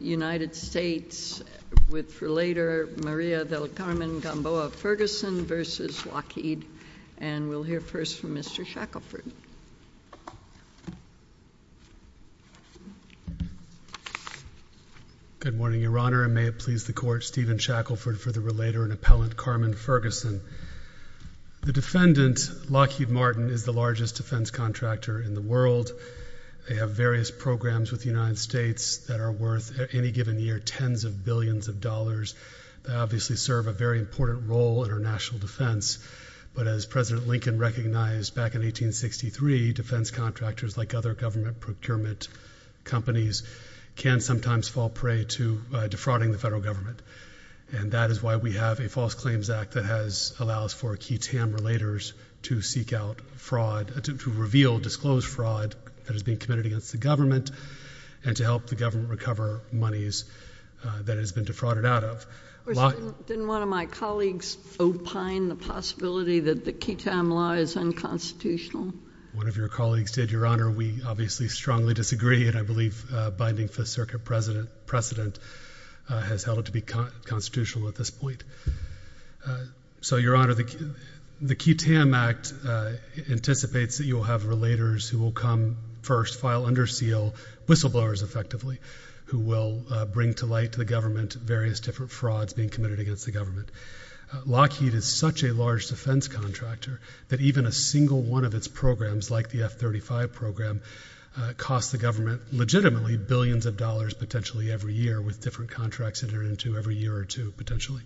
United States with Relator Maria del Carmen Gamboa Ferguson v. Lockheed, and we'll hear first from Mr. Shackelford. Good morning, Your Honor, and may it please the Court, Stephen Shackelford for the Relator and Appellant Carmen Ferguson. The defendant, Lockheed Martin, is the largest defense contractor in the world. They have various programs with the United States that are worth any given year tens of billions of dollars. They obviously serve a very important role in our national defense, but as President Lincoln recognized back in 1863, defense contractors like other government procurement companies can sometimes fall prey to defrauding the federal government, and that is why we have a False Claims Act that allows for key TAM relators to seek out fraud, to reveal disclosed fraud that is being committed against the government and to help the government recover monies that it has been defrauded out of. Didn't one of my colleagues opine the possibility that the key TAM law is unconstitutional? One of your colleagues did, Your Honor. We obviously strongly disagree, and I believe binding Fifth Circuit precedent has held it to be constitutional at this point. So, Your Honor, the key TAM Act anticipates that you will have relators who will come first, file under seal, whistleblowers effectively, who will bring to light to the government various different frauds being committed against the government. Lockheed is such a large defense contractor that even a single one of its programs, like the F-35 program, costs the government legitimately billions of dollars potentially every year with different contracts entered into every year or two potentially.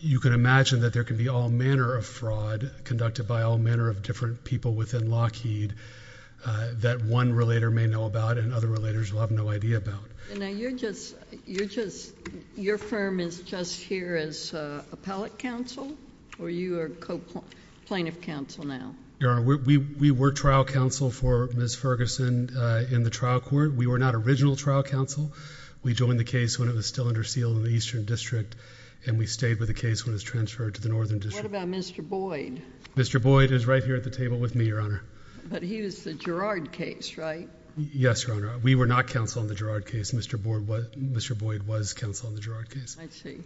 You can imagine that there can be all manner of fraud conducted by all manner of different people within Lockheed that one relator may know about and other relators will have no idea about. And now, you're just... your firm is just here as appellate counsel, or you are co-plaintiff counsel now? Your Honor, we were trial counsel for Ms. Ferguson in the trial court. We were not original trial counsel. We joined the case when it was still under seal in the Eastern District and we stayed with the case when it was transferred to the Northern District. What about Mr. Boyd? Mr. Boyd is right here at the table with me, Your Honor. But he was the Girard case, right? Yes, Your Honor. We were not counsel in the Girard case. Mr. Boyd was counsel in the Girard case. I see.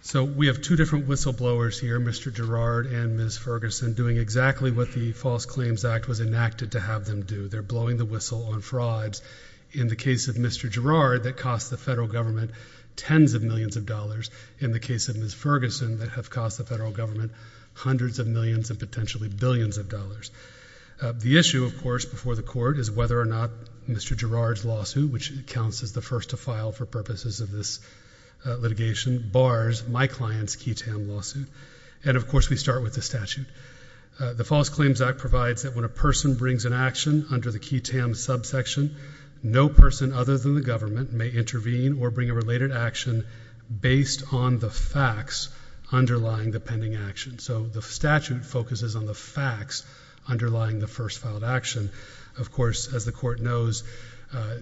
So we have two different whistleblowers here, Mr. Girard and Ms. Ferguson, doing exactly what the False Claims Act was enacted to have them do. They're blowing the whistle on frauds. In the case of Mr. Girard, that cost the federal government tens of millions of dollars. In the case of Ms. Ferguson, that have cost the federal government hundreds of millions and potentially billions of dollars. The issue, of course, before the Court is whether or not Mr. Girard's lawsuit, which counts as the first to file for purposes of this litigation, bars my client's key tam lawsuit. And of course, we start with the statute. The False Claims Act provides that when a person brings an action under the key tam subsection, no person other than the government may intervene or bring a related action based on the facts underlying the pending action. So the statute focuses on the facts underlying the first filed action. Of course, as the Court knows,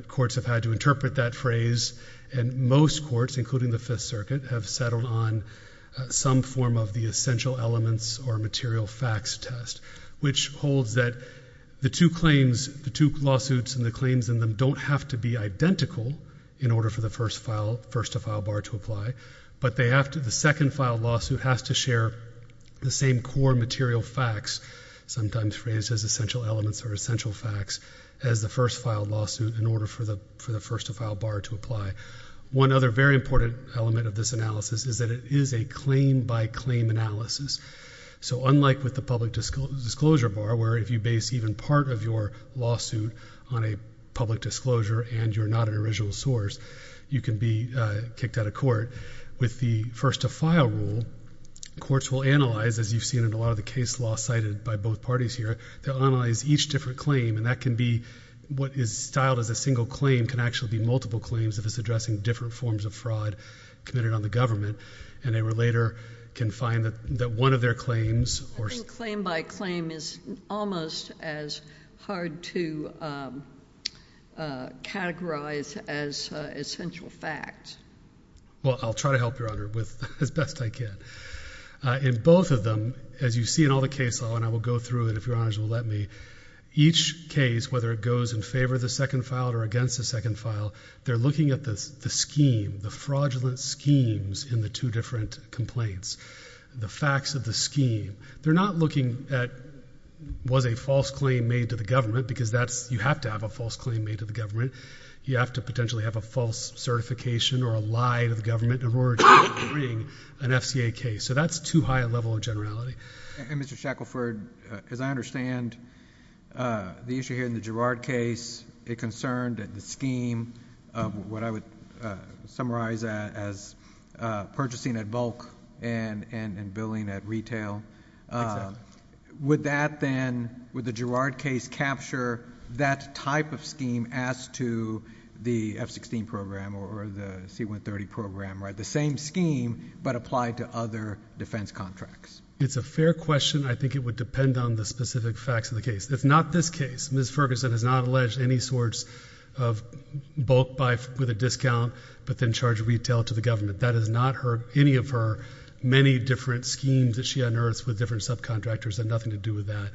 courts have had to interpret that phrase, and most courts, including the Fifth Circuit, have settled on some form of the essential elements or material facts test, which holds that the two lawsuits and the claims in them don't have to be identical in order for the first to file bar to apply, but the second filed lawsuit has to share the same core material facts, sometimes phrased as essential elements or essential facts, as the first filed lawsuit in order for the first to file bar to apply. One other very important element of this analysis is that it is a claim-by-claim analysis. So unlike with the public disclosure bar, where if you base even part of your lawsuit on a public disclosure and you're not an original source, you can be kicked out of court. With the first to file rule, courts will analyze, as you've seen in a lot of the case law cited by both parties here, they'll analyze each different claim, and that can be what is styled as a single claim can actually be multiple claims if it's addressing different forms of fraud committed on the government, and a relator can find that one of their claims or... I think claim-by-claim is almost as hard to categorize as essential facts. Well, I'll try to help, Your Honor, with as best I can. In both of them, as you see in all the case law, and I will go through it if Your Honors will let me, each case, whether it goes in favor of the second file or against the second file, they're looking at the scheme, the fraudulent schemes in the two different complaints, the facts of the scheme. They're not looking at was a false claim made to the government because that's... you have to have a false claim made to the government. You have to potentially have a false certification or a lie to the government in order to bring an FCA case. So that's too high a level of generality. Mr. Shackelford, as I understand the issue here in the Girard case, it concerned the scheme of what I would summarize as purchasing at bulk and billing at retail. Would that then, would the Girard case capture that type of scheme as to the F-16 program or the C-130 program, the same scheme but applied to other defense contracts? It's a fair question. I think it would depend on the specific facts of the case. It's not this case. Ms. Ferguson has not alleged any sorts of bulk buy with a discount but then charge retail to the government. That is not any of her many different schemes that she unearths with different subcontractors. It had nothing to do with that.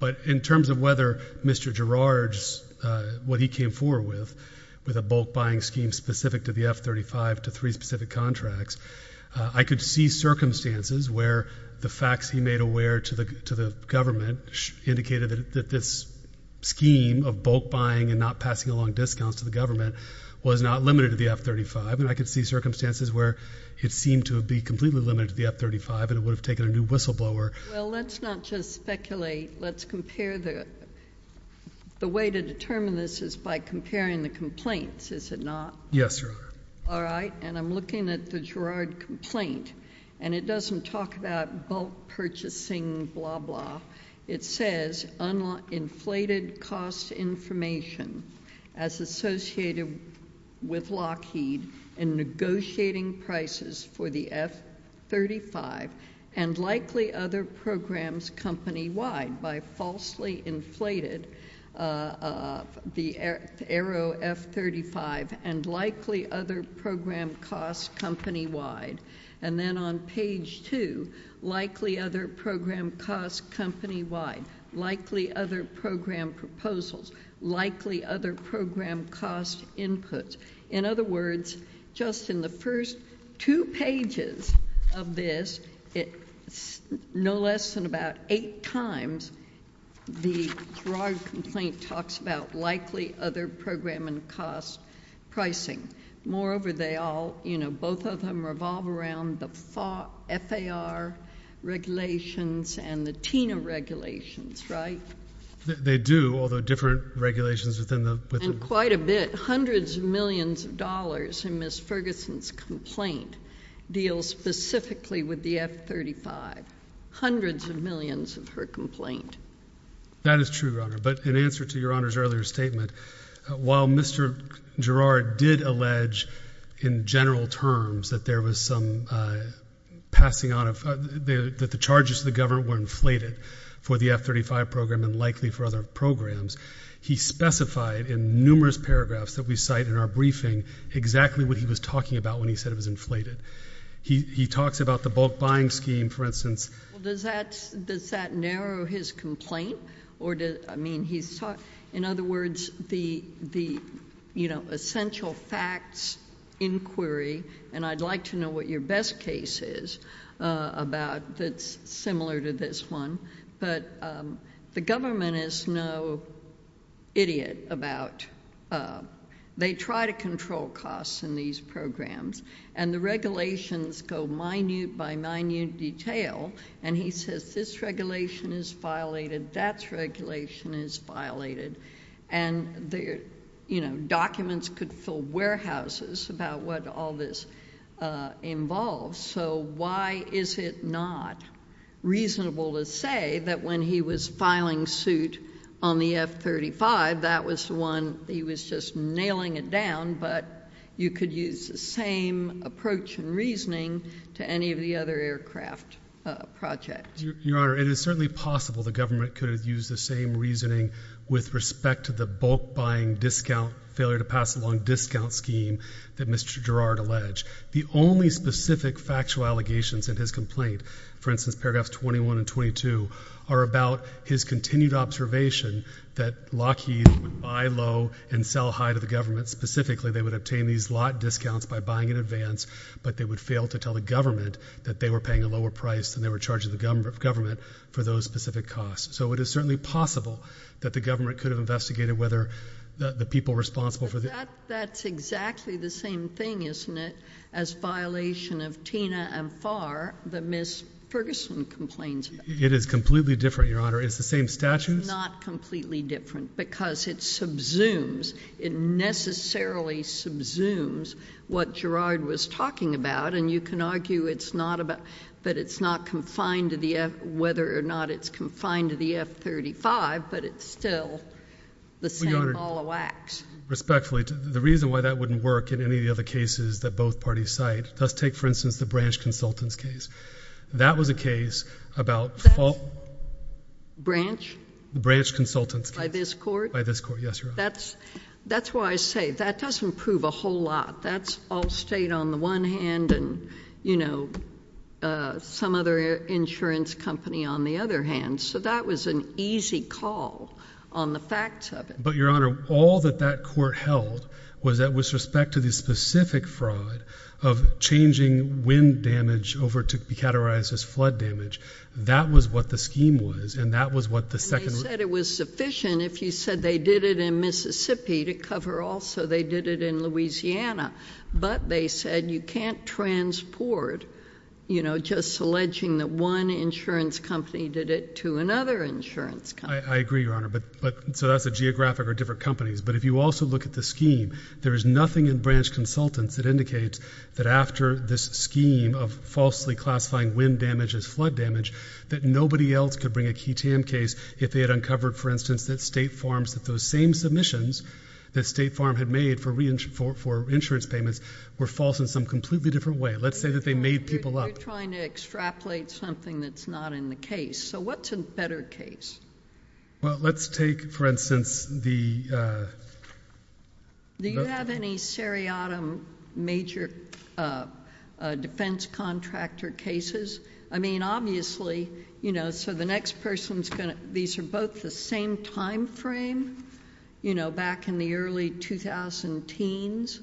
But in terms of whether Mr. Girard's, what he came forward with, with a bulk buying scheme specific to the F-35, to three specific contracts, I could see circumstances where the facts he made aware to the government indicated that this scheme of bulk buying and not passing along discounts to the government was not limited to the F-35, and I could see circumstances where it seemed to be completely limited to the F-35 and it would have taken a new whistleblower. Well, let's not just speculate. Let's compare the, the way to determine this is by comparing the complaints, is it not? Yes, Your Honor. All right. And I'm looking at the Girard complaint, and it doesn't talk about bulk purchasing blah, blah. It says uninflated cost information as associated with Lockheed in negotiating prices for the F-35, and likely other programs company-wide by falsely inflated the Aero F-35, and likely other program costs company-wide. And then on page two, likely other program costs company-wide, likely other program proposals, likely other program cost inputs. In other words, just in the first two pages of this, it's no less than about eight times the Girard complaint talks about likely other program and cost pricing. Moreover, they all, you know, both of them revolve around the FAR, FAR regulations and the TINA regulations, right? They do, although different regulations within the— And quite a bit. And hundreds of millions of dollars in Ms. Ferguson's complaint deals specifically with the F-35, hundreds of millions of her complaint. That is true, Your Honor. But in answer to Your Honor's earlier statement, while Mr. Girard did allege in general terms that there was some passing on of—that the charges to the government were inflated for the F-35 program and likely for other programs, he specified in numerous paragraphs that we cite in our briefing exactly what he was talking about when he said it was inflated. He talks about the bulk buying scheme, for instance. Well, does that narrow his complaint? Or does—I mean, he's—in other words, the, you know, essential facts inquiry, and I'd like to know what your best case is about that's similar to this one, but the government is no idiot about—they try to control costs in these programs, and the regulations go minute by minute detail, and he says this regulation is violated, that regulation is violated, and the, you know, documents could fill warehouses about what all this involves. So why is it not reasonable to say that when he was filing suit on the F-35, that was the one he was just nailing it down, but you could use the same approach and reasoning to any of the other aircraft projects? Your Honor, it is certainly possible the government could have used the same reasoning with respect to the bulk buying discount—failure to pass along discount scheme that Mr. Girard alleged. The only specific factual allegations in his complaint, for instance, paragraphs 21 and 22, are about his continued observation that Lockheed would buy low and sell high to the Specifically, they would obtain these lot discounts by buying in advance, but they would fail to tell the government that they were paying a lower price than they were charging the government for those specific costs. So it is certainly possible that the government could have investigated whether the people responsible for the— But that's exactly the same thing, isn't it, as violation of TINA and FAR that Ms. Ferguson complains about? It is completely different, Your Honor. It's the same statutes. It's not completely different because it subsumes, it necessarily subsumes what Girard was talking about, and you can argue it's not about—but it's not confined to the—whether or not it's confined to the F-35, but it's still the same ball of wax. Your Honor, respectfully, the reason why that wouldn't work in any of the other cases that both parties cite—let's take, for instance, the branch consultant's case. That was a case about— Branch? The branch consultant's case. By this court? By this court, yes, Your Honor. That's why I say that doesn't prove a whole lot. That's Allstate on the one hand and, you know, some other insurance company on the other hand. So that was an easy call on the facts of it. But Your Honor, all that that court held was that with respect to the specific fraud of changing wind damage over to be categorized as flood damage, that was what the scheme was and that was what the second— And they said it was sufficient if you said they did it in Mississippi to cover also they did it in Louisiana. But they said you can't transport, you know, just alleging that one insurance company did it to another insurance company. I agree, Your Honor. But so that's a geographic or different companies. But if you also look at the scheme, there is nothing in branch consultants that indicates that after this scheme of falsely classifying wind damage as flood damage, that nobody else could bring a ketam case if they had uncovered, for instance, that State Farm's—that those for insurance payments were false in some completely different way. Let's say that they made people up. You're trying to extrapolate something that's not in the case. So what's a better case? Well, let's take, for instance, the— Do you have any seriatim major defense contractor cases? I mean, obviously, you know, so the next person's going to—these are both the same time frame, you know, back in the early 2010s,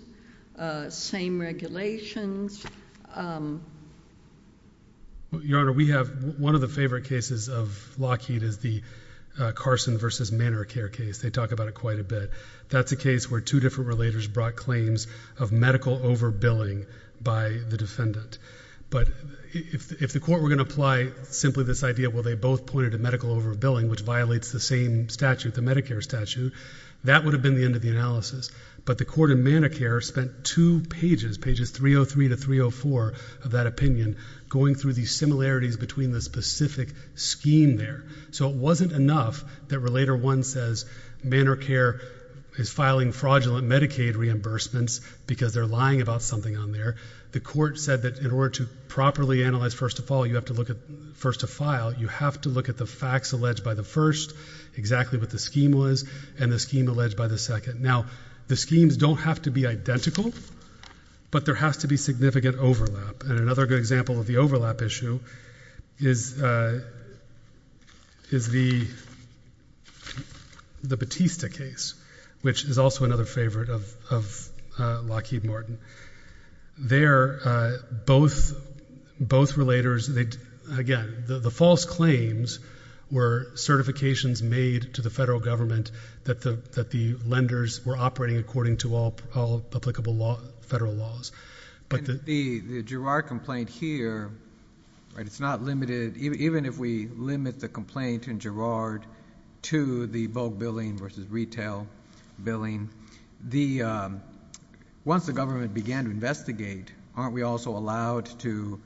same regulations. Your Honor, we have—one of the favorite cases of Lockheed is the Carson versus Manor Care case. They talk about it quite a bit. That's a case where two different relators brought claims of medical overbilling by the But if the court were going to apply simply this idea, well, they both pointed to medical overbilling, which violates the same statute, the Medicare statute. That would have been the end of the analysis. But the court in Manor Care spent two pages, pages 303 to 304 of that opinion, going through the similarities between the specific scheme there. So it wasn't enough that Relator 1 says Manor Care is filing fraudulent Medicaid reimbursements because they're lying about something on there. The court said that in order to properly analyze first to file, you have to look at the facts alleged by the first, exactly what the scheme was, and the scheme alleged by the second. Now the schemes don't have to be identical, but there has to be significant overlap. And another good example of the overlap issue is the Batista case, which is also another favorite of Lockheed Morton. There, both Relators, again, the false claims were certifications made to the federal government that the lenders were operating according to all applicable federal laws. The Girard complaint here, it's not limited, even if we limit the complaint in Girard to the bulk billing versus retail billing. Once the government began to investigate, aren't we also allowed to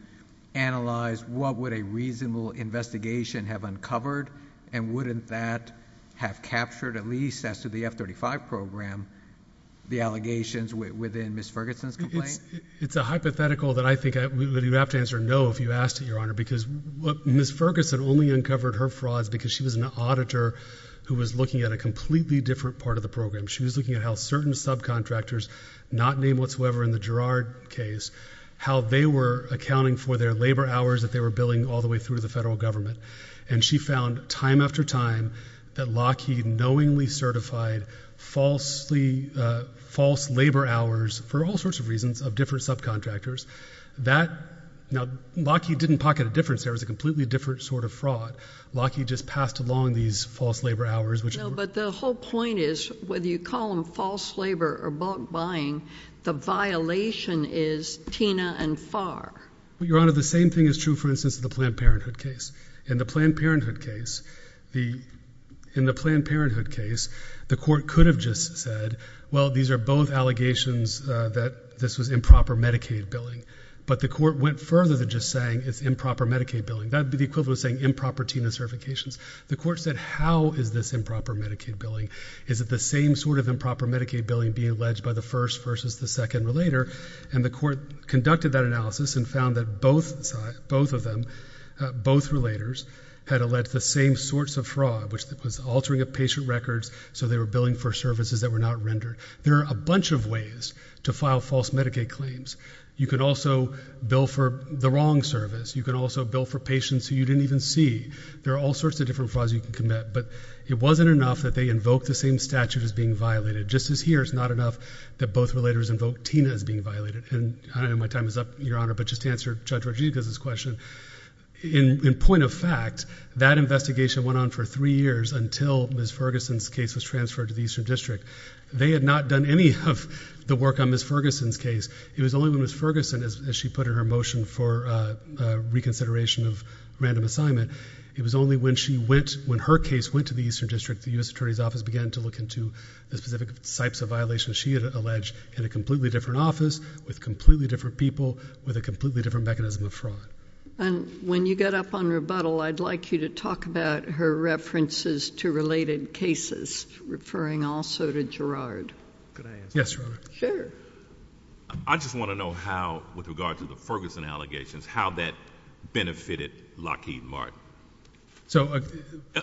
analyze what would a reasonable investigation have uncovered, and wouldn't that have captured, at least as to the F-35 program, the allegations within Ms. Ferguson's complaint? It's a hypothetical that I think you'd have to answer no if you asked it, Your Honor, because Ms. Ferguson only uncovered her frauds because she was an auditor who was looking at a completely different part of the program. She was looking at how certain subcontractors, not named whatsoever in the Girard case, how they were accounting for their labor hours that they were billing all the way through the federal government. And she found, time after time, that Lockheed knowingly certified false labor hours, for all sorts of reasons, of different subcontractors. Now, Lockheed didn't pocket a difference there. It was a completely different sort of fraud. Lockheed just passed along these false labor hours, which were— No, but the whole point is, whether you call them false labor or bulk buying, the violation is TINA and FAR. Well, Your Honor, the same thing is true, for instance, of the Planned Parenthood case. In the Planned Parenthood case, the court could have just said, well, these are both allegations that this was improper Medicaid billing. But the court went further than just saying it's improper Medicaid billing. That would be the equivalent of saying improper TINA certifications. The court said, how is this improper Medicaid billing? Is it the same sort of improper Medicaid billing being alleged by the first versus the second relator? And the court conducted that analysis and found that both of them, both relators, had alleged the same sorts of fraud, which was altering of patient records so they were billing for services that were not rendered. There are a bunch of ways to file false Medicaid claims. You can also bill for the wrong service. You can also bill for patients who you didn't even see. There are all sorts of different frauds you can commit. But it wasn't enough that they invoked the same statute as being violated. Just as here, it's not enough that both relators invoke TINA as being violated. And I don't know if my time is up, Your Honor, but just to answer Judge Rodriguez's question, in point of fact, that investigation went on for three years until Ms. Ferguson's case was transferred to the Eastern District. They had not done any of the work on Ms. Ferguson's case. It was only when Ms. Ferguson, as she put in her motion for reconsideration of random assignment, it was only when she went, when her case went to the Eastern District, the U.S. Attorney's Office began to look into the specific types of violations she had alleged in a completely different office, with completely different people, with a completely different mechanism of fraud. And when you get up on rebuttal, I'd like you to talk about her references to related cases, referring also to Gerard. Could I answer that? Yes, Your Honor. Sure. I just want to know how, with regard to the Ferguson allegations, how that benefited Lockheed Martin.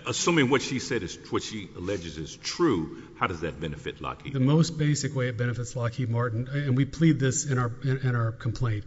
Assuming what she said is, what she alleges is true, how does that benefit Lockheed Martin? The most basic way it benefits Lockheed Martin, and we plead this in our complaint,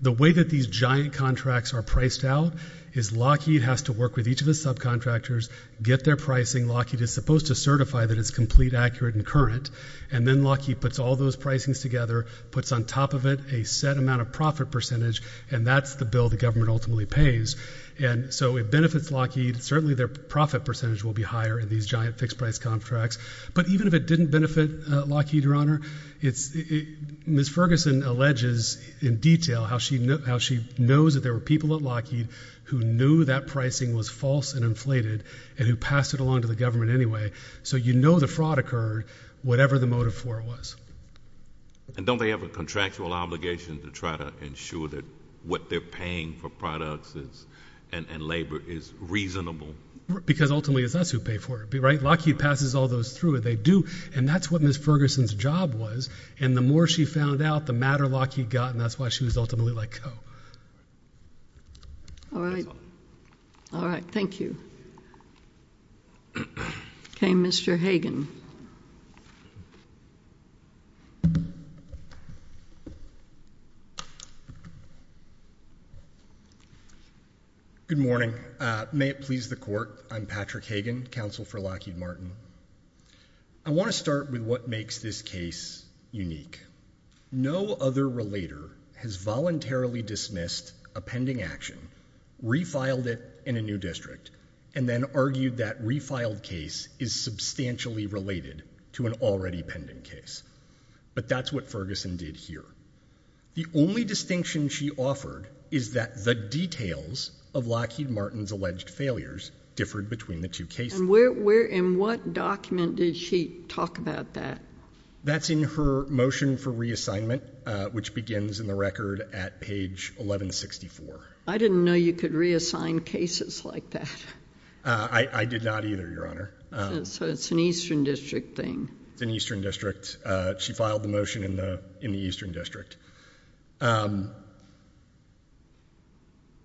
the way that these giant contracts are priced out is Lockheed has to work with each of the subcontractors, get their pricing, Lockheed is supposed to certify that it's complete, accurate, and current, and then Lockheed puts all those pricings together, puts on top of it a set amount of profit percentage, and that's the bill the government ultimately pays. And so it benefits Lockheed, certainly their profit percentage will be higher in these giant fixed price contracts, but even if it didn't benefit Lockheed, Your Honor, it's, Ms. Ferguson alleges in detail how she knows that there were people at Lockheed who knew that pricing was false and inflated, and who passed it along to the government anyway, so you know the fraud occurred, whatever the motive for it was. And don't they have a contractual obligation to try to ensure that what they're paying for products and labor is reasonable? Because ultimately it's us who pay for it, right? Lockheed passes all those through, they do, and that's what Ms. Ferguson's job was, and the more she found out, the madder Lockheed got, and that's why she was ultimately let All right. Thank you. Okay, Mr. Hagan. Good morning. May it please the court, I'm Patrick Hagan, counsel for Lockheed Martin. I want to start with what makes this case unique. No other relator has voluntarily dismissed a pending action, refiled it in a new district, and then argued that refiled case is substantially related to an already pending case. But that's what Ferguson did here. The only distinction she offered is that the details of Lockheed Martin's alleged failures differed between the two cases. And where, in what document did she talk about that? That's in her motion for reassignment, which begins in the record at page 1164. I didn't know you could reassign cases like that. I did not either, Your Honor. So it's an Eastern District thing. It's an Eastern District. She filed the motion in the Eastern District.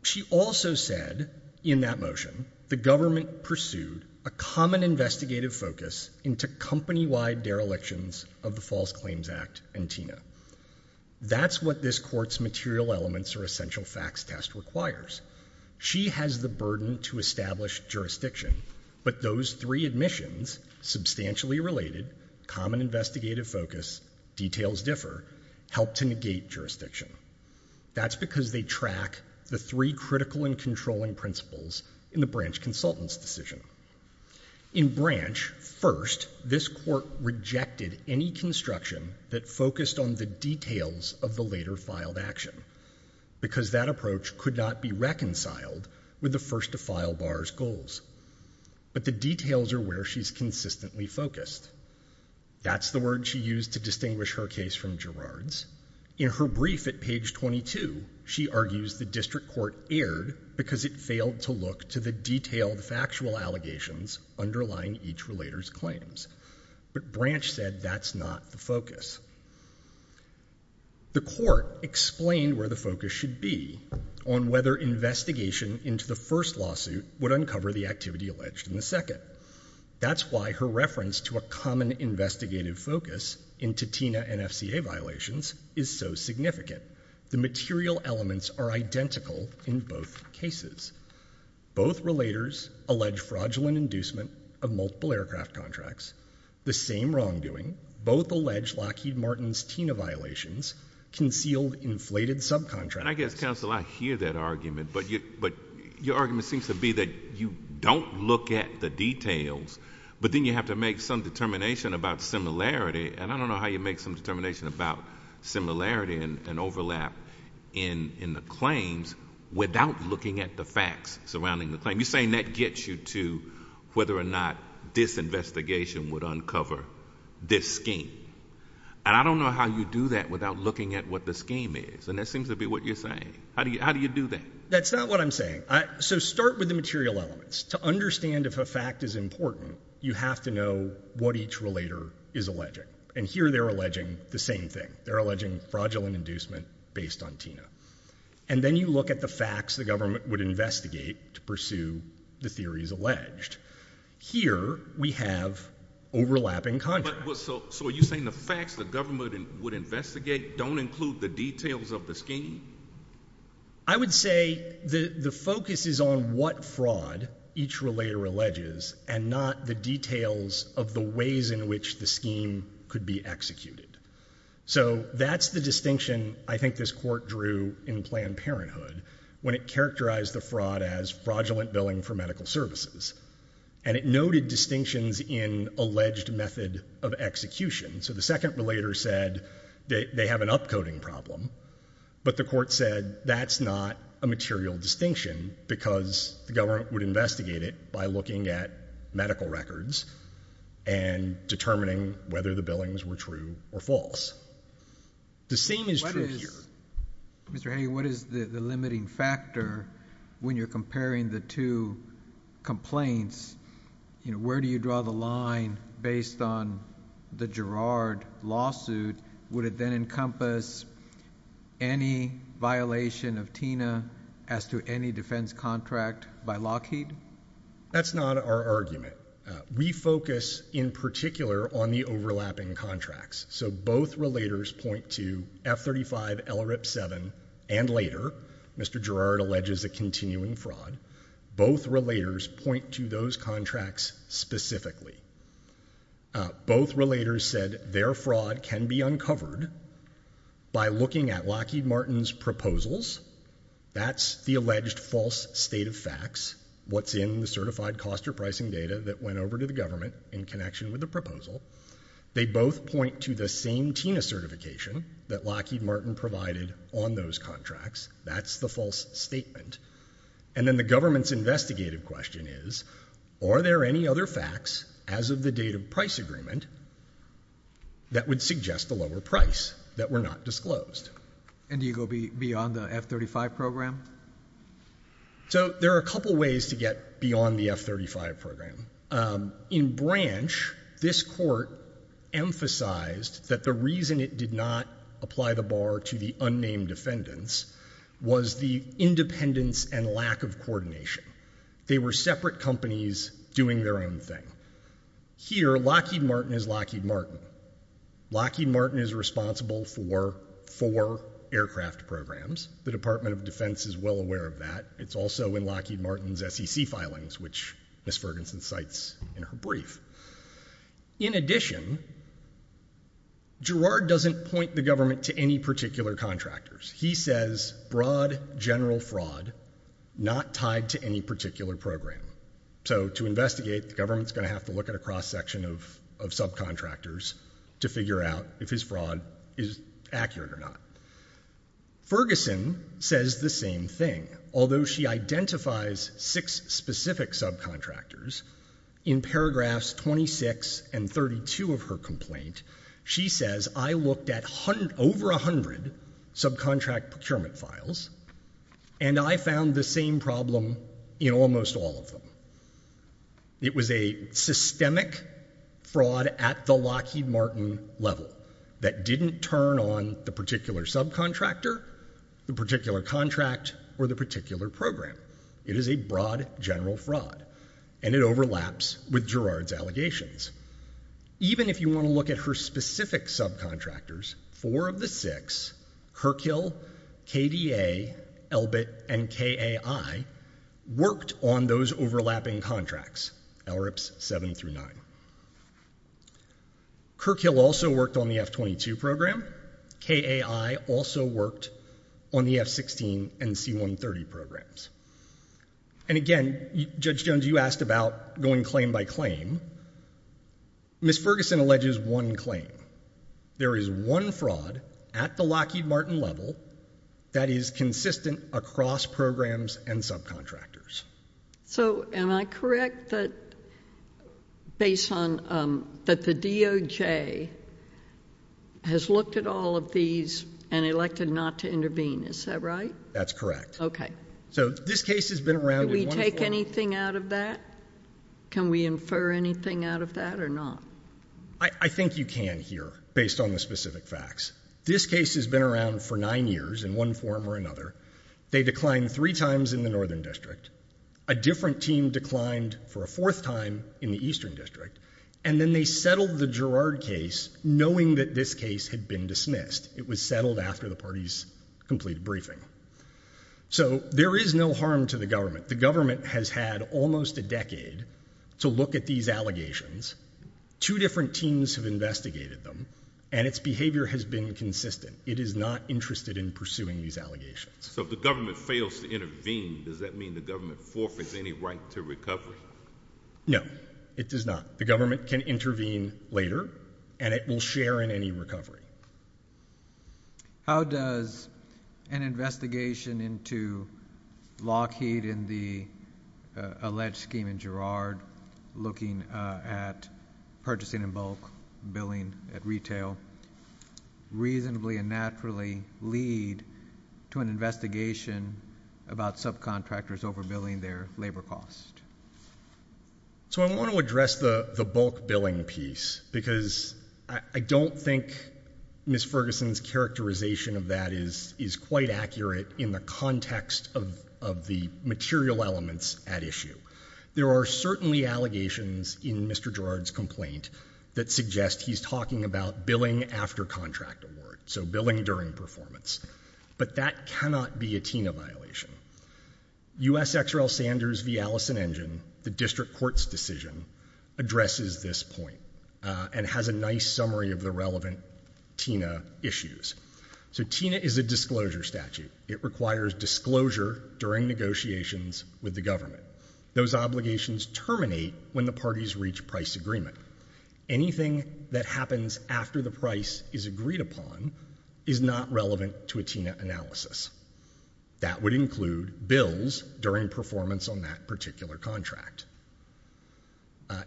She also said in that motion the government pursued a common investigative focus into company-wide derelictions of the False Claims Act and TINA. That's what this court's material elements or essential facts test requires. She has the burden to establish jurisdiction, but those three admissions, substantially related, common investigative focus, details differ, help to negate jurisdiction. That's because they track the three critical and controlling principles in the branch consultant's decision. In branch, first, this court rejected any construction that focused on the details of the later filed action because that approach could not be reconciled with the first-to-file bar's goals. But the details are where she's consistently focused. That's the word she used to distinguish her case from Gerard's. In her brief at page 22, she argues the district court erred because it failed to look to the detailed factual allegations underlying each relator's claims. But branch said that's not the focus. The court explained where the focus should be on whether investigation into the first lawsuit would uncover the activity alleged in the second. That's why her reference to a common investigative focus into TINA and FCA violations is so significant. The material elements are identical in both cases. Both relators allege fraudulent inducement of multiple aircraft contracts. The same wrongdoing. Both allege Lockheed Martin's TINA violations, concealed inflated subcontracts. And I guess, counsel, I hear that argument, but your argument seems to be that you don't look at the details, but then you have to make some determination about similarity, and I don't know how you make some determination about similarity and overlap in the claims without looking at the facts surrounding the claim. You're saying that gets you to whether or not this investigation would uncover this scheme. And I don't know how you do that without looking at what the scheme is, and that seems to be what you're saying. How do you do that? That's not what I'm saying. So start with the material elements. To understand if a fact is important, you have to know what each relator is alleging. And here they're alleging the same thing. They're alleging fraudulent inducement based on TINA. And then you look at the facts the government would investigate to pursue the theories alleged. Here we have overlapping contracts. So are you saying the facts the government would investigate don't include the details of the scheme? I would say the focus is on what fraud each relator alleges and not the details of the ways in which the scheme could be executed. So that's the distinction I think this court drew in Planned Parenthood when it characterized the fraud as fraudulent billing for medical services. And it noted distinctions in alleged method of execution. So the second relator said they have an upcoding problem, but the court said that's not a material distinction because the government would investigate it by looking at medical records and determining whether the billings were true or false. The same is true here. Mr. Haney, what is the limiting factor when you're comparing the two complaints? Where do you draw the line based on the Girard lawsuit? Would it then encompass any violation of TINA as to any defense contract by Lockheed? That's not our argument. We focus in particular on the overlapping contracts. So both relators point to F-35, LRIP-7, and later. Mr. Girard alleges a continuing fraud. Both relators point to those contracts specifically. Both relators said their fraud can be uncovered by looking at Lockheed Martin's proposals. That's the alleged false state of facts. That's what's in the certified cost or pricing data that went over to the government in connection with the proposal. They both point to the same TINA certification that Lockheed Martin provided on those contracts. That's the false statement. And then the government's investigative question is, are there any other facts as of the date of price agreement that would suggest a lower price that were not disclosed? And do you go beyond the F-35 program? So there are a couple ways to get beyond the F-35 program. In branch, this court emphasized that the reason it did not apply the bar to the unnamed defendants was the independence and lack of coordination. They were separate companies doing their own thing. Here, Lockheed Martin is Lockheed Martin. Lockheed Martin is responsible for four aircraft programs. The Department of Defense is well aware of that. It's also in Lockheed Martin's SEC filings, which Ms. Ferguson cites in her brief. In addition, Gerard doesn't point the government to any particular contractors. He says broad, general fraud, not tied to any particular program. So to investigate, the government's going to have to look at a cross-section of subcontractors to figure out if his fraud is accurate or not. Ferguson says the same thing. Although she identifies six specific subcontractors, in paragraphs 26 and 32 of her complaint, she says, I looked at over 100 subcontract procurement files, and I found the same problem in almost all of them. It was a systemic fraud at the Lockheed Martin level that didn't turn on the particular subcontractor, the particular contract, or the particular program. It is a broad, general fraud, and it overlaps with Gerard's allegations. Even if you want to look at her specific subcontractors, four of the six, Kirkhill, KDA, Elbit, and KAI, worked on those overlapping contracts, LRIPS 7 through 9. Kirkhill also worked on the F-22 program. KAI also worked on the F-16 and C-130 programs. And again, Judge Jones, you asked about going claim by claim. Ms. Ferguson alleges one claim. There is one fraud at the Lockheed Martin level that is consistent across programs and subcontractors. So am I correct that based on... that the DOJ has looked at all of these and elected not to intervene, is that right? That's correct. So this case has been around... Did we take anything out of that? Can we infer anything out of that or not? I think you can here, based on the specific facts. This case has been around for nine years in one form or another. They declined three times in the Northern District. A different team declined for a fourth time in the Eastern District. And then they settled the Girard case knowing that this case had been dismissed. It was settled after the parties completed briefing. So there is no harm to the government. The government has had almost a decade to look at these allegations. Two different teams have investigated them, and its behavior has been consistent. It is not interested in pursuing these allegations. So if the government fails to intervene, does that mean the government forfeits any right to recovery? No, it does not. The government can intervene later, and it will share in any recovery. How does an investigation into Lockheed and the alleged scheme in Girard, looking at purchasing in bulk, billing at retail, reasonably and naturally lead to an investigation about subcontractors overbilling their labor costs? So I want to address the bulk billing piece because I don't think Ms. Ferguson's characterization of that is quite accurate in the context of the material elements at issue. There are certainly allegations in Mr. Girard's complaint that suggest he's talking about billing after contract award, so billing during performance. But that cannot be a TINA violation. U.S. XRL Sanders v. Allison Engine, the district court's decision, addresses this point and has a nice summary of the relevant TINA issues. So TINA is a disclosure statute. It requires disclosure during negotiations with the government. Those obligations terminate when the parties reach price agreement. Anything that happens after the price is agreed upon is not relevant to a TINA analysis. That would include bills during performance on that particular contract.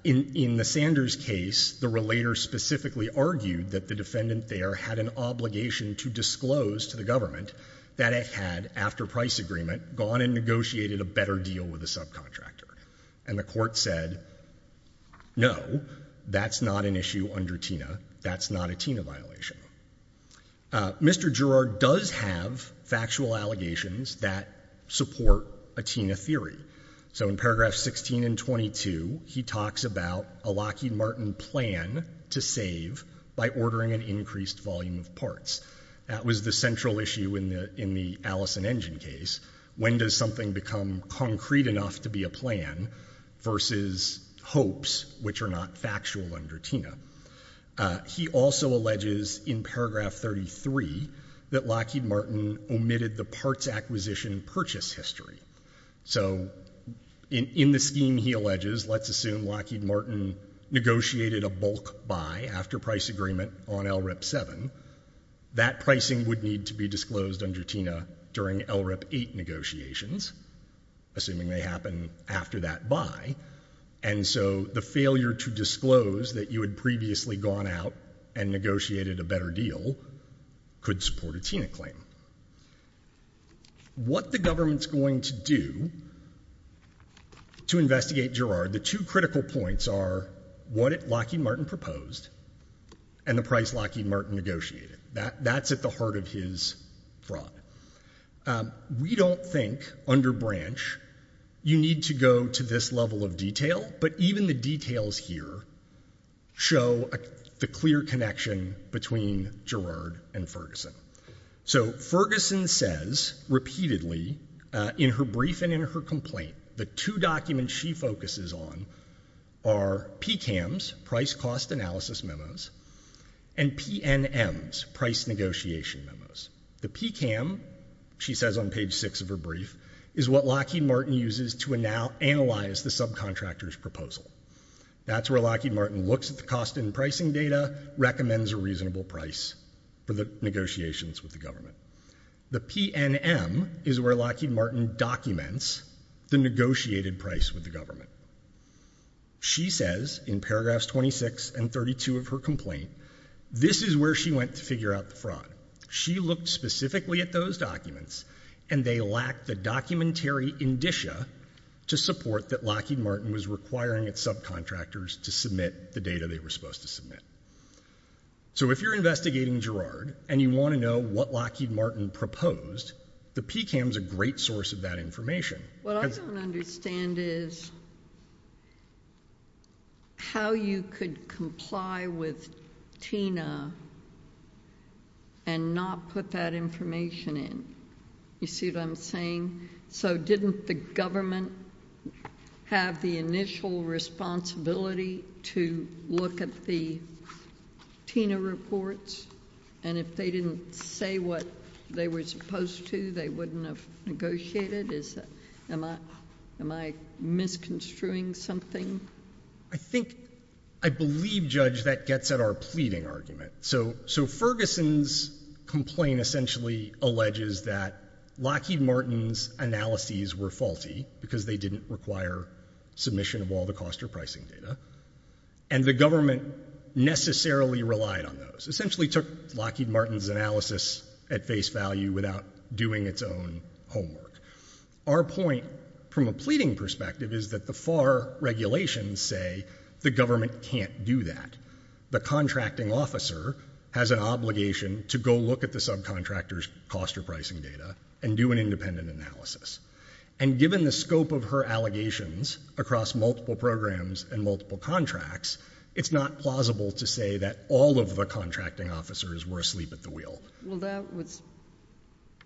In the Sanders case, the relator specifically argued that the defendant there had an obligation to disclose to the government that it had, after price agreement, gone and negotiated a better deal with the subcontractor. And the court said, no, that's not an issue under TINA. That's not a TINA violation. Mr. Girard does have factual allegations that support a TINA theory. So in paragraphs 16 and 22, he talks about a Lockheed Martin plan to save by ordering an increased volume of parts. That was the central issue in the Allison Engine case. When does something become concrete enough to be a plan versus hopes which are not factual under TINA? He also alleges in paragraph 33 that Lockheed Martin omitted the parts acquisition purchase history. So in the scheme he alleges, let's assume Lockheed Martin negotiated a bulk buy after price agreement on LRIP 7, that pricing would need to be disclosed under TINA during LRIP 8 negotiations, assuming they happen after that buy. And so the failure to disclose that you had previously gone out and negotiated a better deal could support a TINA claim. What the government's going to do to investigate Girard, the two critical points are what Lockheed Martin proposed and the price Lockheed Martin negotiated. That's at the heart of his fraud. We don't think, under branch, you need to go to this level of detail, but even the details here show the clear connection between Girard and Ferguson. So Ferguson says, repeatedly, in her brief and in her complaint, the two documents she focuses on are PCAMs, price-cost analysis memos, and PNMs, price negotiation memos. The PCAM, she says on page 6 of her brief, is what Lockheed Martin uses to analyze the subcontractor's proposal. That's where Lockheed Martin looks at the cost and pricing data, recommends a reasonable price for the negotiations with the government. The PNM is where Lockheed Martin documents the negotiated price with the government. She says, in paragraphs 26 and 32 of her complaint, this is where she went to figure out the fraud. She looked specifically at those documents, and they lacked the documentary indicia to support that Lockheed Martin was requiring its subcontractors to submit the data they were supposed to submit. So if you're investigating Girard and you want to know what Lockheed Martin proposed, the PCAM's a great source of that information. What I don't understand is... ..how you could comply with TINA and not put that information in. You see what I'm saying? So didn't the government have the initial responsibility to look at the TINA reports? And if they didn't say what they were supposed to, they wouldn't have negotiated? Am I misconstruing something? I think...I believe, Judge, that gets at our pleading argument. So Ferguson's complaint essentially alleges that Lockheed Martin's analyses were faulty because they didn't require submission of all the cost or pricing data, and the government necessarily relied on those, essentially took Lockheed Martin's analysis at face value without doing its own homework. Our point, from a pleading perspective, is that the FAR regulations say the government can't do that. The contracting officer has an obligation to go look at the subcontractor's cost or pricing data and do an independent analysis. And given the scope of her allegations across multiple programs and multiple contracts, it's not plausible to say that all of the contracting officers were asleep at the wheel. Well, that was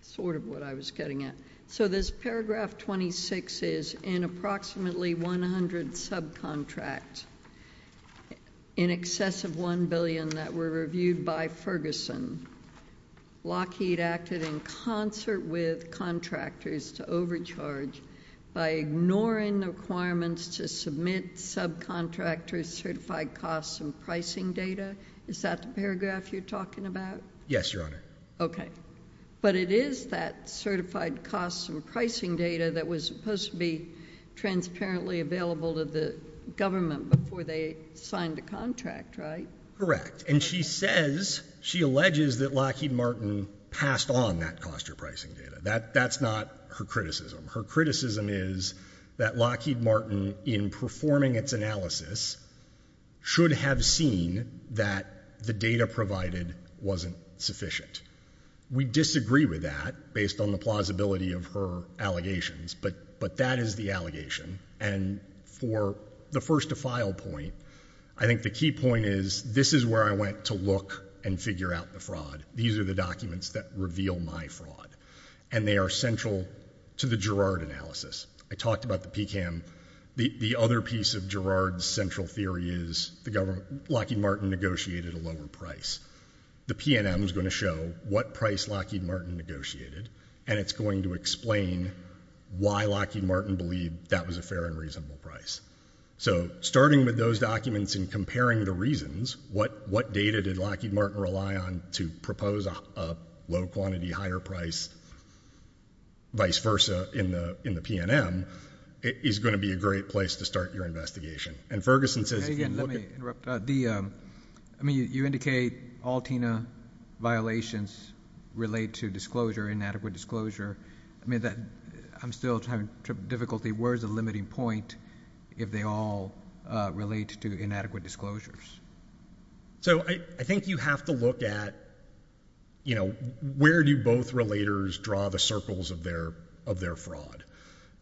sort of what I was getting at. So this paragraph 26 is, in approximately 100 subcontracts, in excess of $1 billion that were reviewed by Ferguson, Lockheed acted in concert with contractors to overcharge by ignoring the requirements to submit subcontractors' certified costs and pricing data? Is that the paragraph you're talking about? Yes, Your Honor. Okay. But it is that certified costs and pricing data that was supposed to be transparently available to the government before they signed the contract, right? Correct. And she says, she alleges, that Lockheed Martin passed on that cost or pricing data. That's not her criticism. Her criticism is that Lockheed Martin, in performing its analysis, should have seen that the data provided wasn't sufficient. We disagree with that, based on the plausibility of her allegations, but that is the allegation. And for the first-to-file point, I think the key point is, this is where I went to look and figure out the fraud. These are the documents that reveal my fraud. And they are central to the Girard analysis. I talked about the PCAM. The other piece of Girard's central theory is, Lockheed Martin negotiated a lower price. The PNM is going to show what price Lockheed Martin negotiated, and it's going to explain why Lockheed Martin believed that was a fair and reasonable price. So, starting with those documents and comparing the reasons, what data did Lockheed Martin rely on to propose a low-quantity, higher price, vice versa, in the PNM, is going to be a great place to start your investigation. And Ferguson says... Again, let me interrupt. I mean, you indicate all TINA violations relate to disclosure, inadequate disclosure. I mean, I'm still having difficulty. Where is the limiting point if they all relate to inadequate disclosures? So, I think you have to look at, you know, where do both relators draw the circles of their fraud?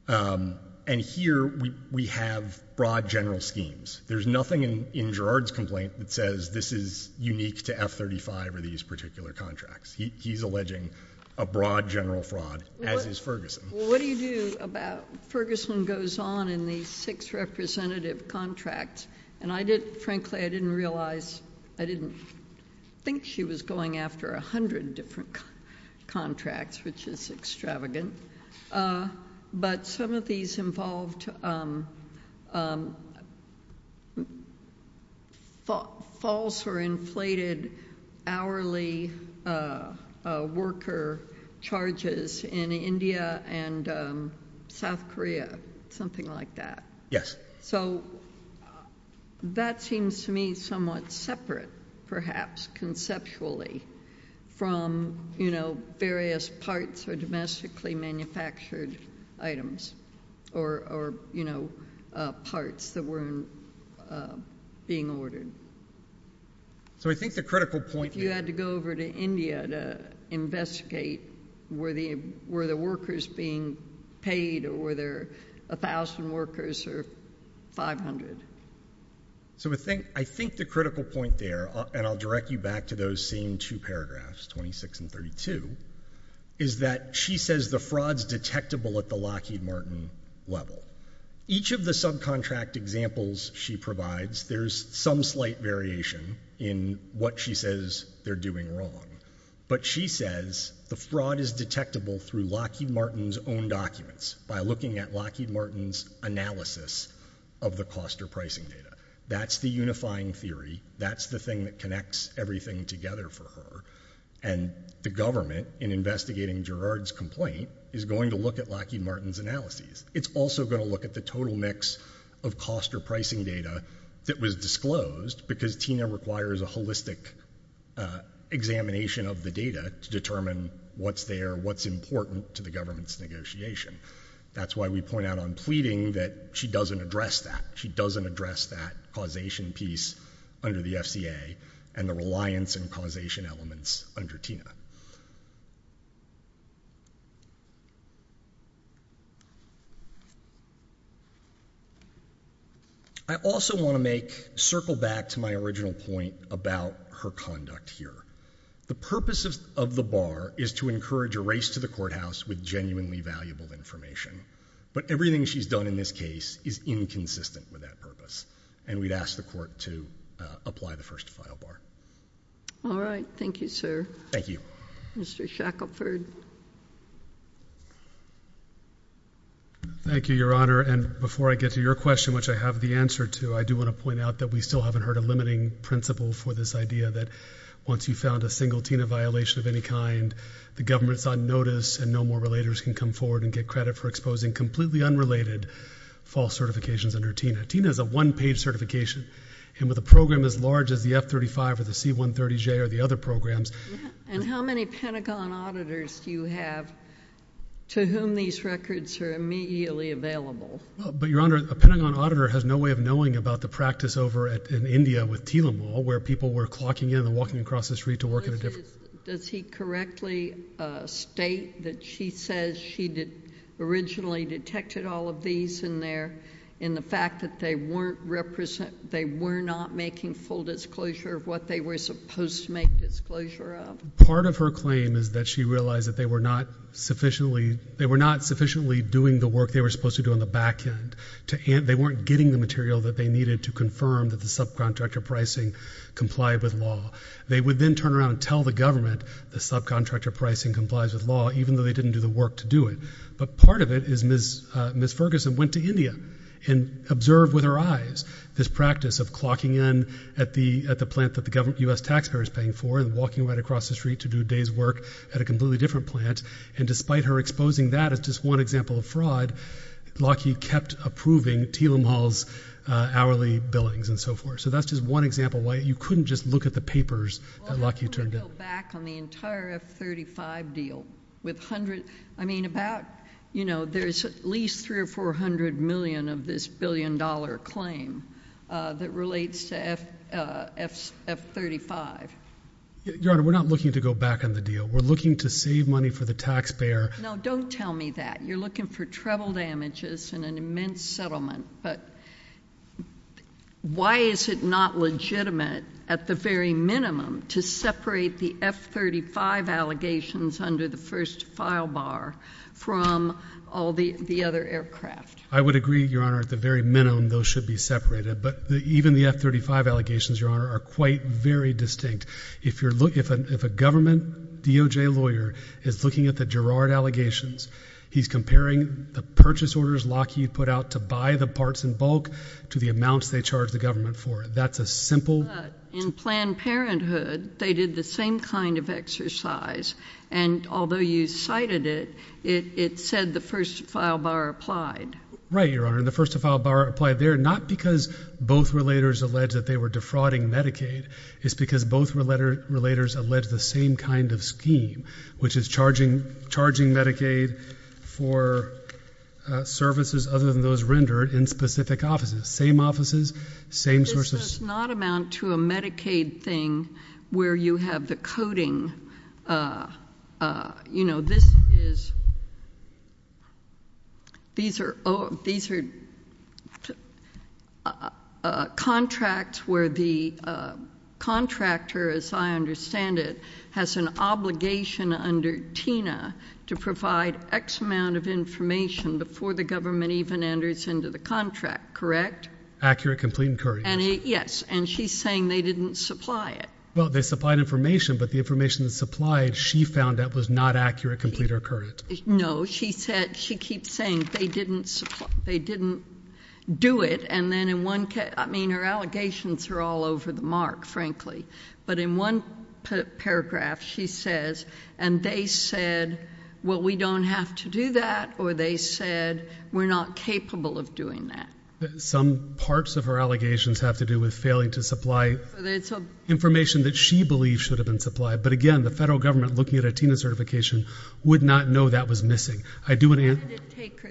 And here, we have broad general schemes. There's nothing in Girard's complaint that says this is unique to F-35 or these particular contracts. He's alleging a broad general fraud, as is Ferguson. Well, what do you do about... Ferguson goes on in these six representative contracts, and I did... Frankly, I didn't realize... I didn't think she was going after 100 different contracts, which is extravagant. But some of these involved... ..false or inflated hourly worker charges in India and South Korea, something like that. Yes. So, that seems to me somewhat separate, perhaps, conceptually, from, you know, various parts or domestically manufactured items or, you know, parts that weren't being ordered. So, I think the critical point... If you had to go over to India to investigate, were the workers being paid, or were there 1,000 workers or 500? So, I think the critical point there, and I'll direct you back to those same two paragraphs, 26 and 32, is that she says the fraud's detectable at the Lockheed Martin level. Each of the subcontract examples she provides, there's some slight variation in what she says they're doing wrong. But she says the fraud is detectable through Lockheed Martin's own documents, by looking at Lockheed Martin's analysis of the cost or pricing data. That's the unifying theory. That's the thing that connects everything together for her. And the government, in investigating Girard's complaint, is going to look at Lockheed Martin's analyses. It's also going to look at the total mix of cost or pricing data that was disclosed, because Tina requires a holistic examination of the data to determine what's there, what's important to the government's negotiation. That's why we point out on pleading that she doesn't address that. She doesn't address that causation piece under the FCA and the reliance and causation elements under Tina. I also want to circle back to my original point about her conduct here. The purpose of the bar is to encourage a race to the courthouse with genuinely valuable information. But everything she's done in this case is inconsistent with that purpose, and we'd ask the court to apply the first file bar. All right. Thank you, sir. Thank you. Mr. Shackelford. Thank you, Your Honor. And before I get to your question, which I have the answer to, I do want to point out that we still haven't heard a limiting principle for this idea that once you've found a single Tina violation of any kind, the government's on notice and no more relators can come forward and get credit for exposing completely unrelated false certifications under Tina. Tina is a one-page certification, and with a program as large as the F-35 or the C-130J or the other programs... And how many Pentagon auditors do you have to whom these records are immediately available? But, Your Honor, a Pentagon auditor has no way of knowing about the practice over in India with Teelamal, where people were clocking in and walking across the street to work at a different... Does he correctly state that she says she originally detected all of these in there and the fact that they were not making full disclosure of what they were supposed to make disclosure of? Part of her claim is that she realized that they were not sufficiently... they were not sufficiently doing the work they were supposed to do on the back end. They weren't getting the material that they needed to confirm that the subcontractor pricing complied with law. They would then turn around and tell the government the subcontractor pricing complies with law, even though they didn't do the work to do it. But part of it is Ms. Ferguson went to India and observed with her eyes this practice of clocking in at the plant that the U.S. taxpayer is paying for and walking right across the street to do a day's work at a completely different plant. And despite her exposing that as just one example of fraud, Lockheed kept approving Teelamal's hourly billings and so forth. So that's just one example why you couldn't just look at the papers that Lockheed turned in. Well, I'm going to go back on the entire F-35 deal. I mean, there's at least three or four hundred million of this billion dollar claim that relates to F-35. Your Honor, we're not looking to go back on the deal. We're looking to save money for the taxpayer. No, don't tell me that. You're looking for treble damages and an immense settlement. But why is it not legitimate at the very minimum to separate the F-35 allegations under the first file bar from all the other aircraft? I would agree, Your Honor, at the very minimum those should be separated. But even the F-35 allegations, Your Honor, are quite very distinct. If a government DOJ lawyer is looking at the Girard allegations, he's comparing the purchase orders Lockheed put out to buy the parts in bulk to the amounts they charge the government for it. That's a simple— But in Planned Parenthood, they did the same kind of exercise. And although you cited it, it said the first file bar applied. Right, Your Honor. And the first file bar applied there not because both relators alleged that they were defrauding Medicaid. It's because both relators alleged the same kind of scheme, which is charging Medicaid for services other than those rendered in specific offices. Same offices, same sources. This does not amount to a Medicaid thing where you have the coding. You know, this is—these are contracts where the contractor, as I understand it, has an obligation under TINA to provide X amount of information before the government even enters into the contract, correct? Accurate, complete, and courteous. Yes. And she's saying they didn't supply it. Well, they supplied information, but the information supplied she found out was not accurate, complete, or current. She said—she keeps saying they didn't supply—they didn't do it. And then in one—I mean, her allegations are all over the mark, frankly. But in one paragraph, she says, and they said, well, we don't have to do that, or they said we're not capable of doing that. Some parts of her allegations have to do with failing to supply information that she believes should have been supplied. But again, the federal government, looking at a TINA certification, would not know that was missing. I do want to answer... When did it take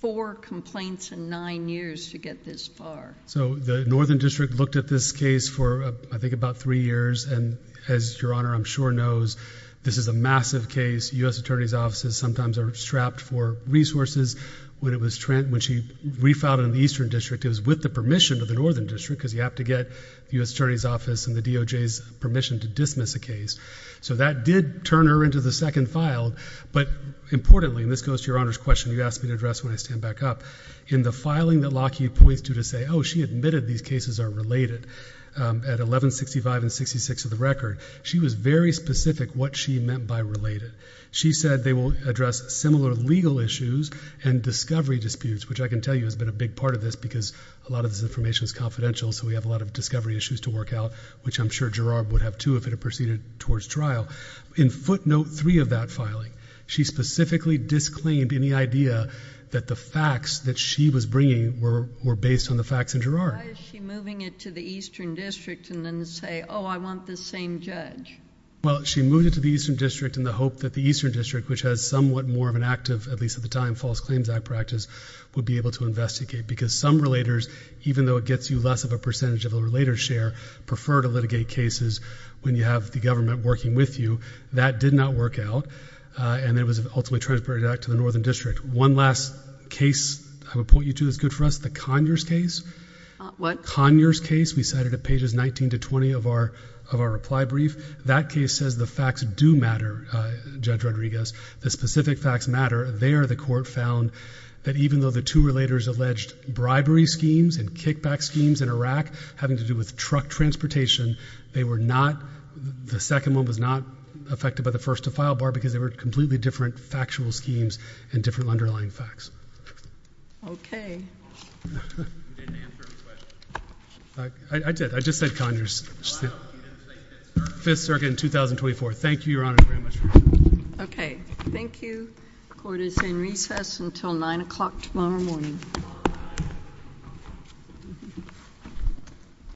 four complaints in nine years to get this far? So the Northern District looked at this case for, I think, about three years. And as Your Honor, I'm sure, knows, this is a massive case. U.S. Attorney's offices sometimes are strapped for resources. When she refiled it in the Eastern District, it was with the permission of the Northern District because you have to get the U.S. Attorney's Office and the DOJ's permission to dismiss a case. So that did turn her into the second file. But importantly, and this goes to Your Honor's question you asked me to address when I stand back up, in the filing that Lockheed points to to say, oh, she admitted these cases are related at 1165 and 66 of the record, she was very specific what she meant by related. She said they will address similar legal issues and discovery disputes, which I can tell you has been a big part of this because a lot of this information is confidential, so we have a lot of discovery issues to work out, which I'm sure Gerard would have, too, if it had proceeded towards trial. In footnote three of that filing, she specifically disclaimed any idea that the facts that she was bringing were based on the facts in Gerard. Why is she moving it to the Eastern District and then say, oh, I want the same judge? Well, she moved it to the Eastern District in the hope that the Eastern District, which has somewhat more of an active, at least at the time, False Claims Act practice, would be able to investigate because some relators, even though it gets you less of a percentage of a relator's share, prefer to litigate cases when you have the government working with you. That did not work out, and it was ultimately transferred back to the Northern District. One last case I would point you to that's good for us, the Conyers case. What? Conyers case we cited at pages 19 to 20 of our reply brief. That case says the facts do matter, Judge Rodriguez, the specific facts matter. There the court found that even though the two relators alleged bribery schemes and kickback schemes in Iraq having to do with truck transportation, they were not, the second one was not affected by the first to file bar because they were completely different factual schemes and different underlying facts. Okay. You didn't answer her question. I did. I just said Conyers. Wow. You didn't say Fifth Circuit. Fifth Circuit in 2024. Thank you, Your Honor, very much. Okay. Thank you. Court is in recess until 9 o'clock tomorrow morning.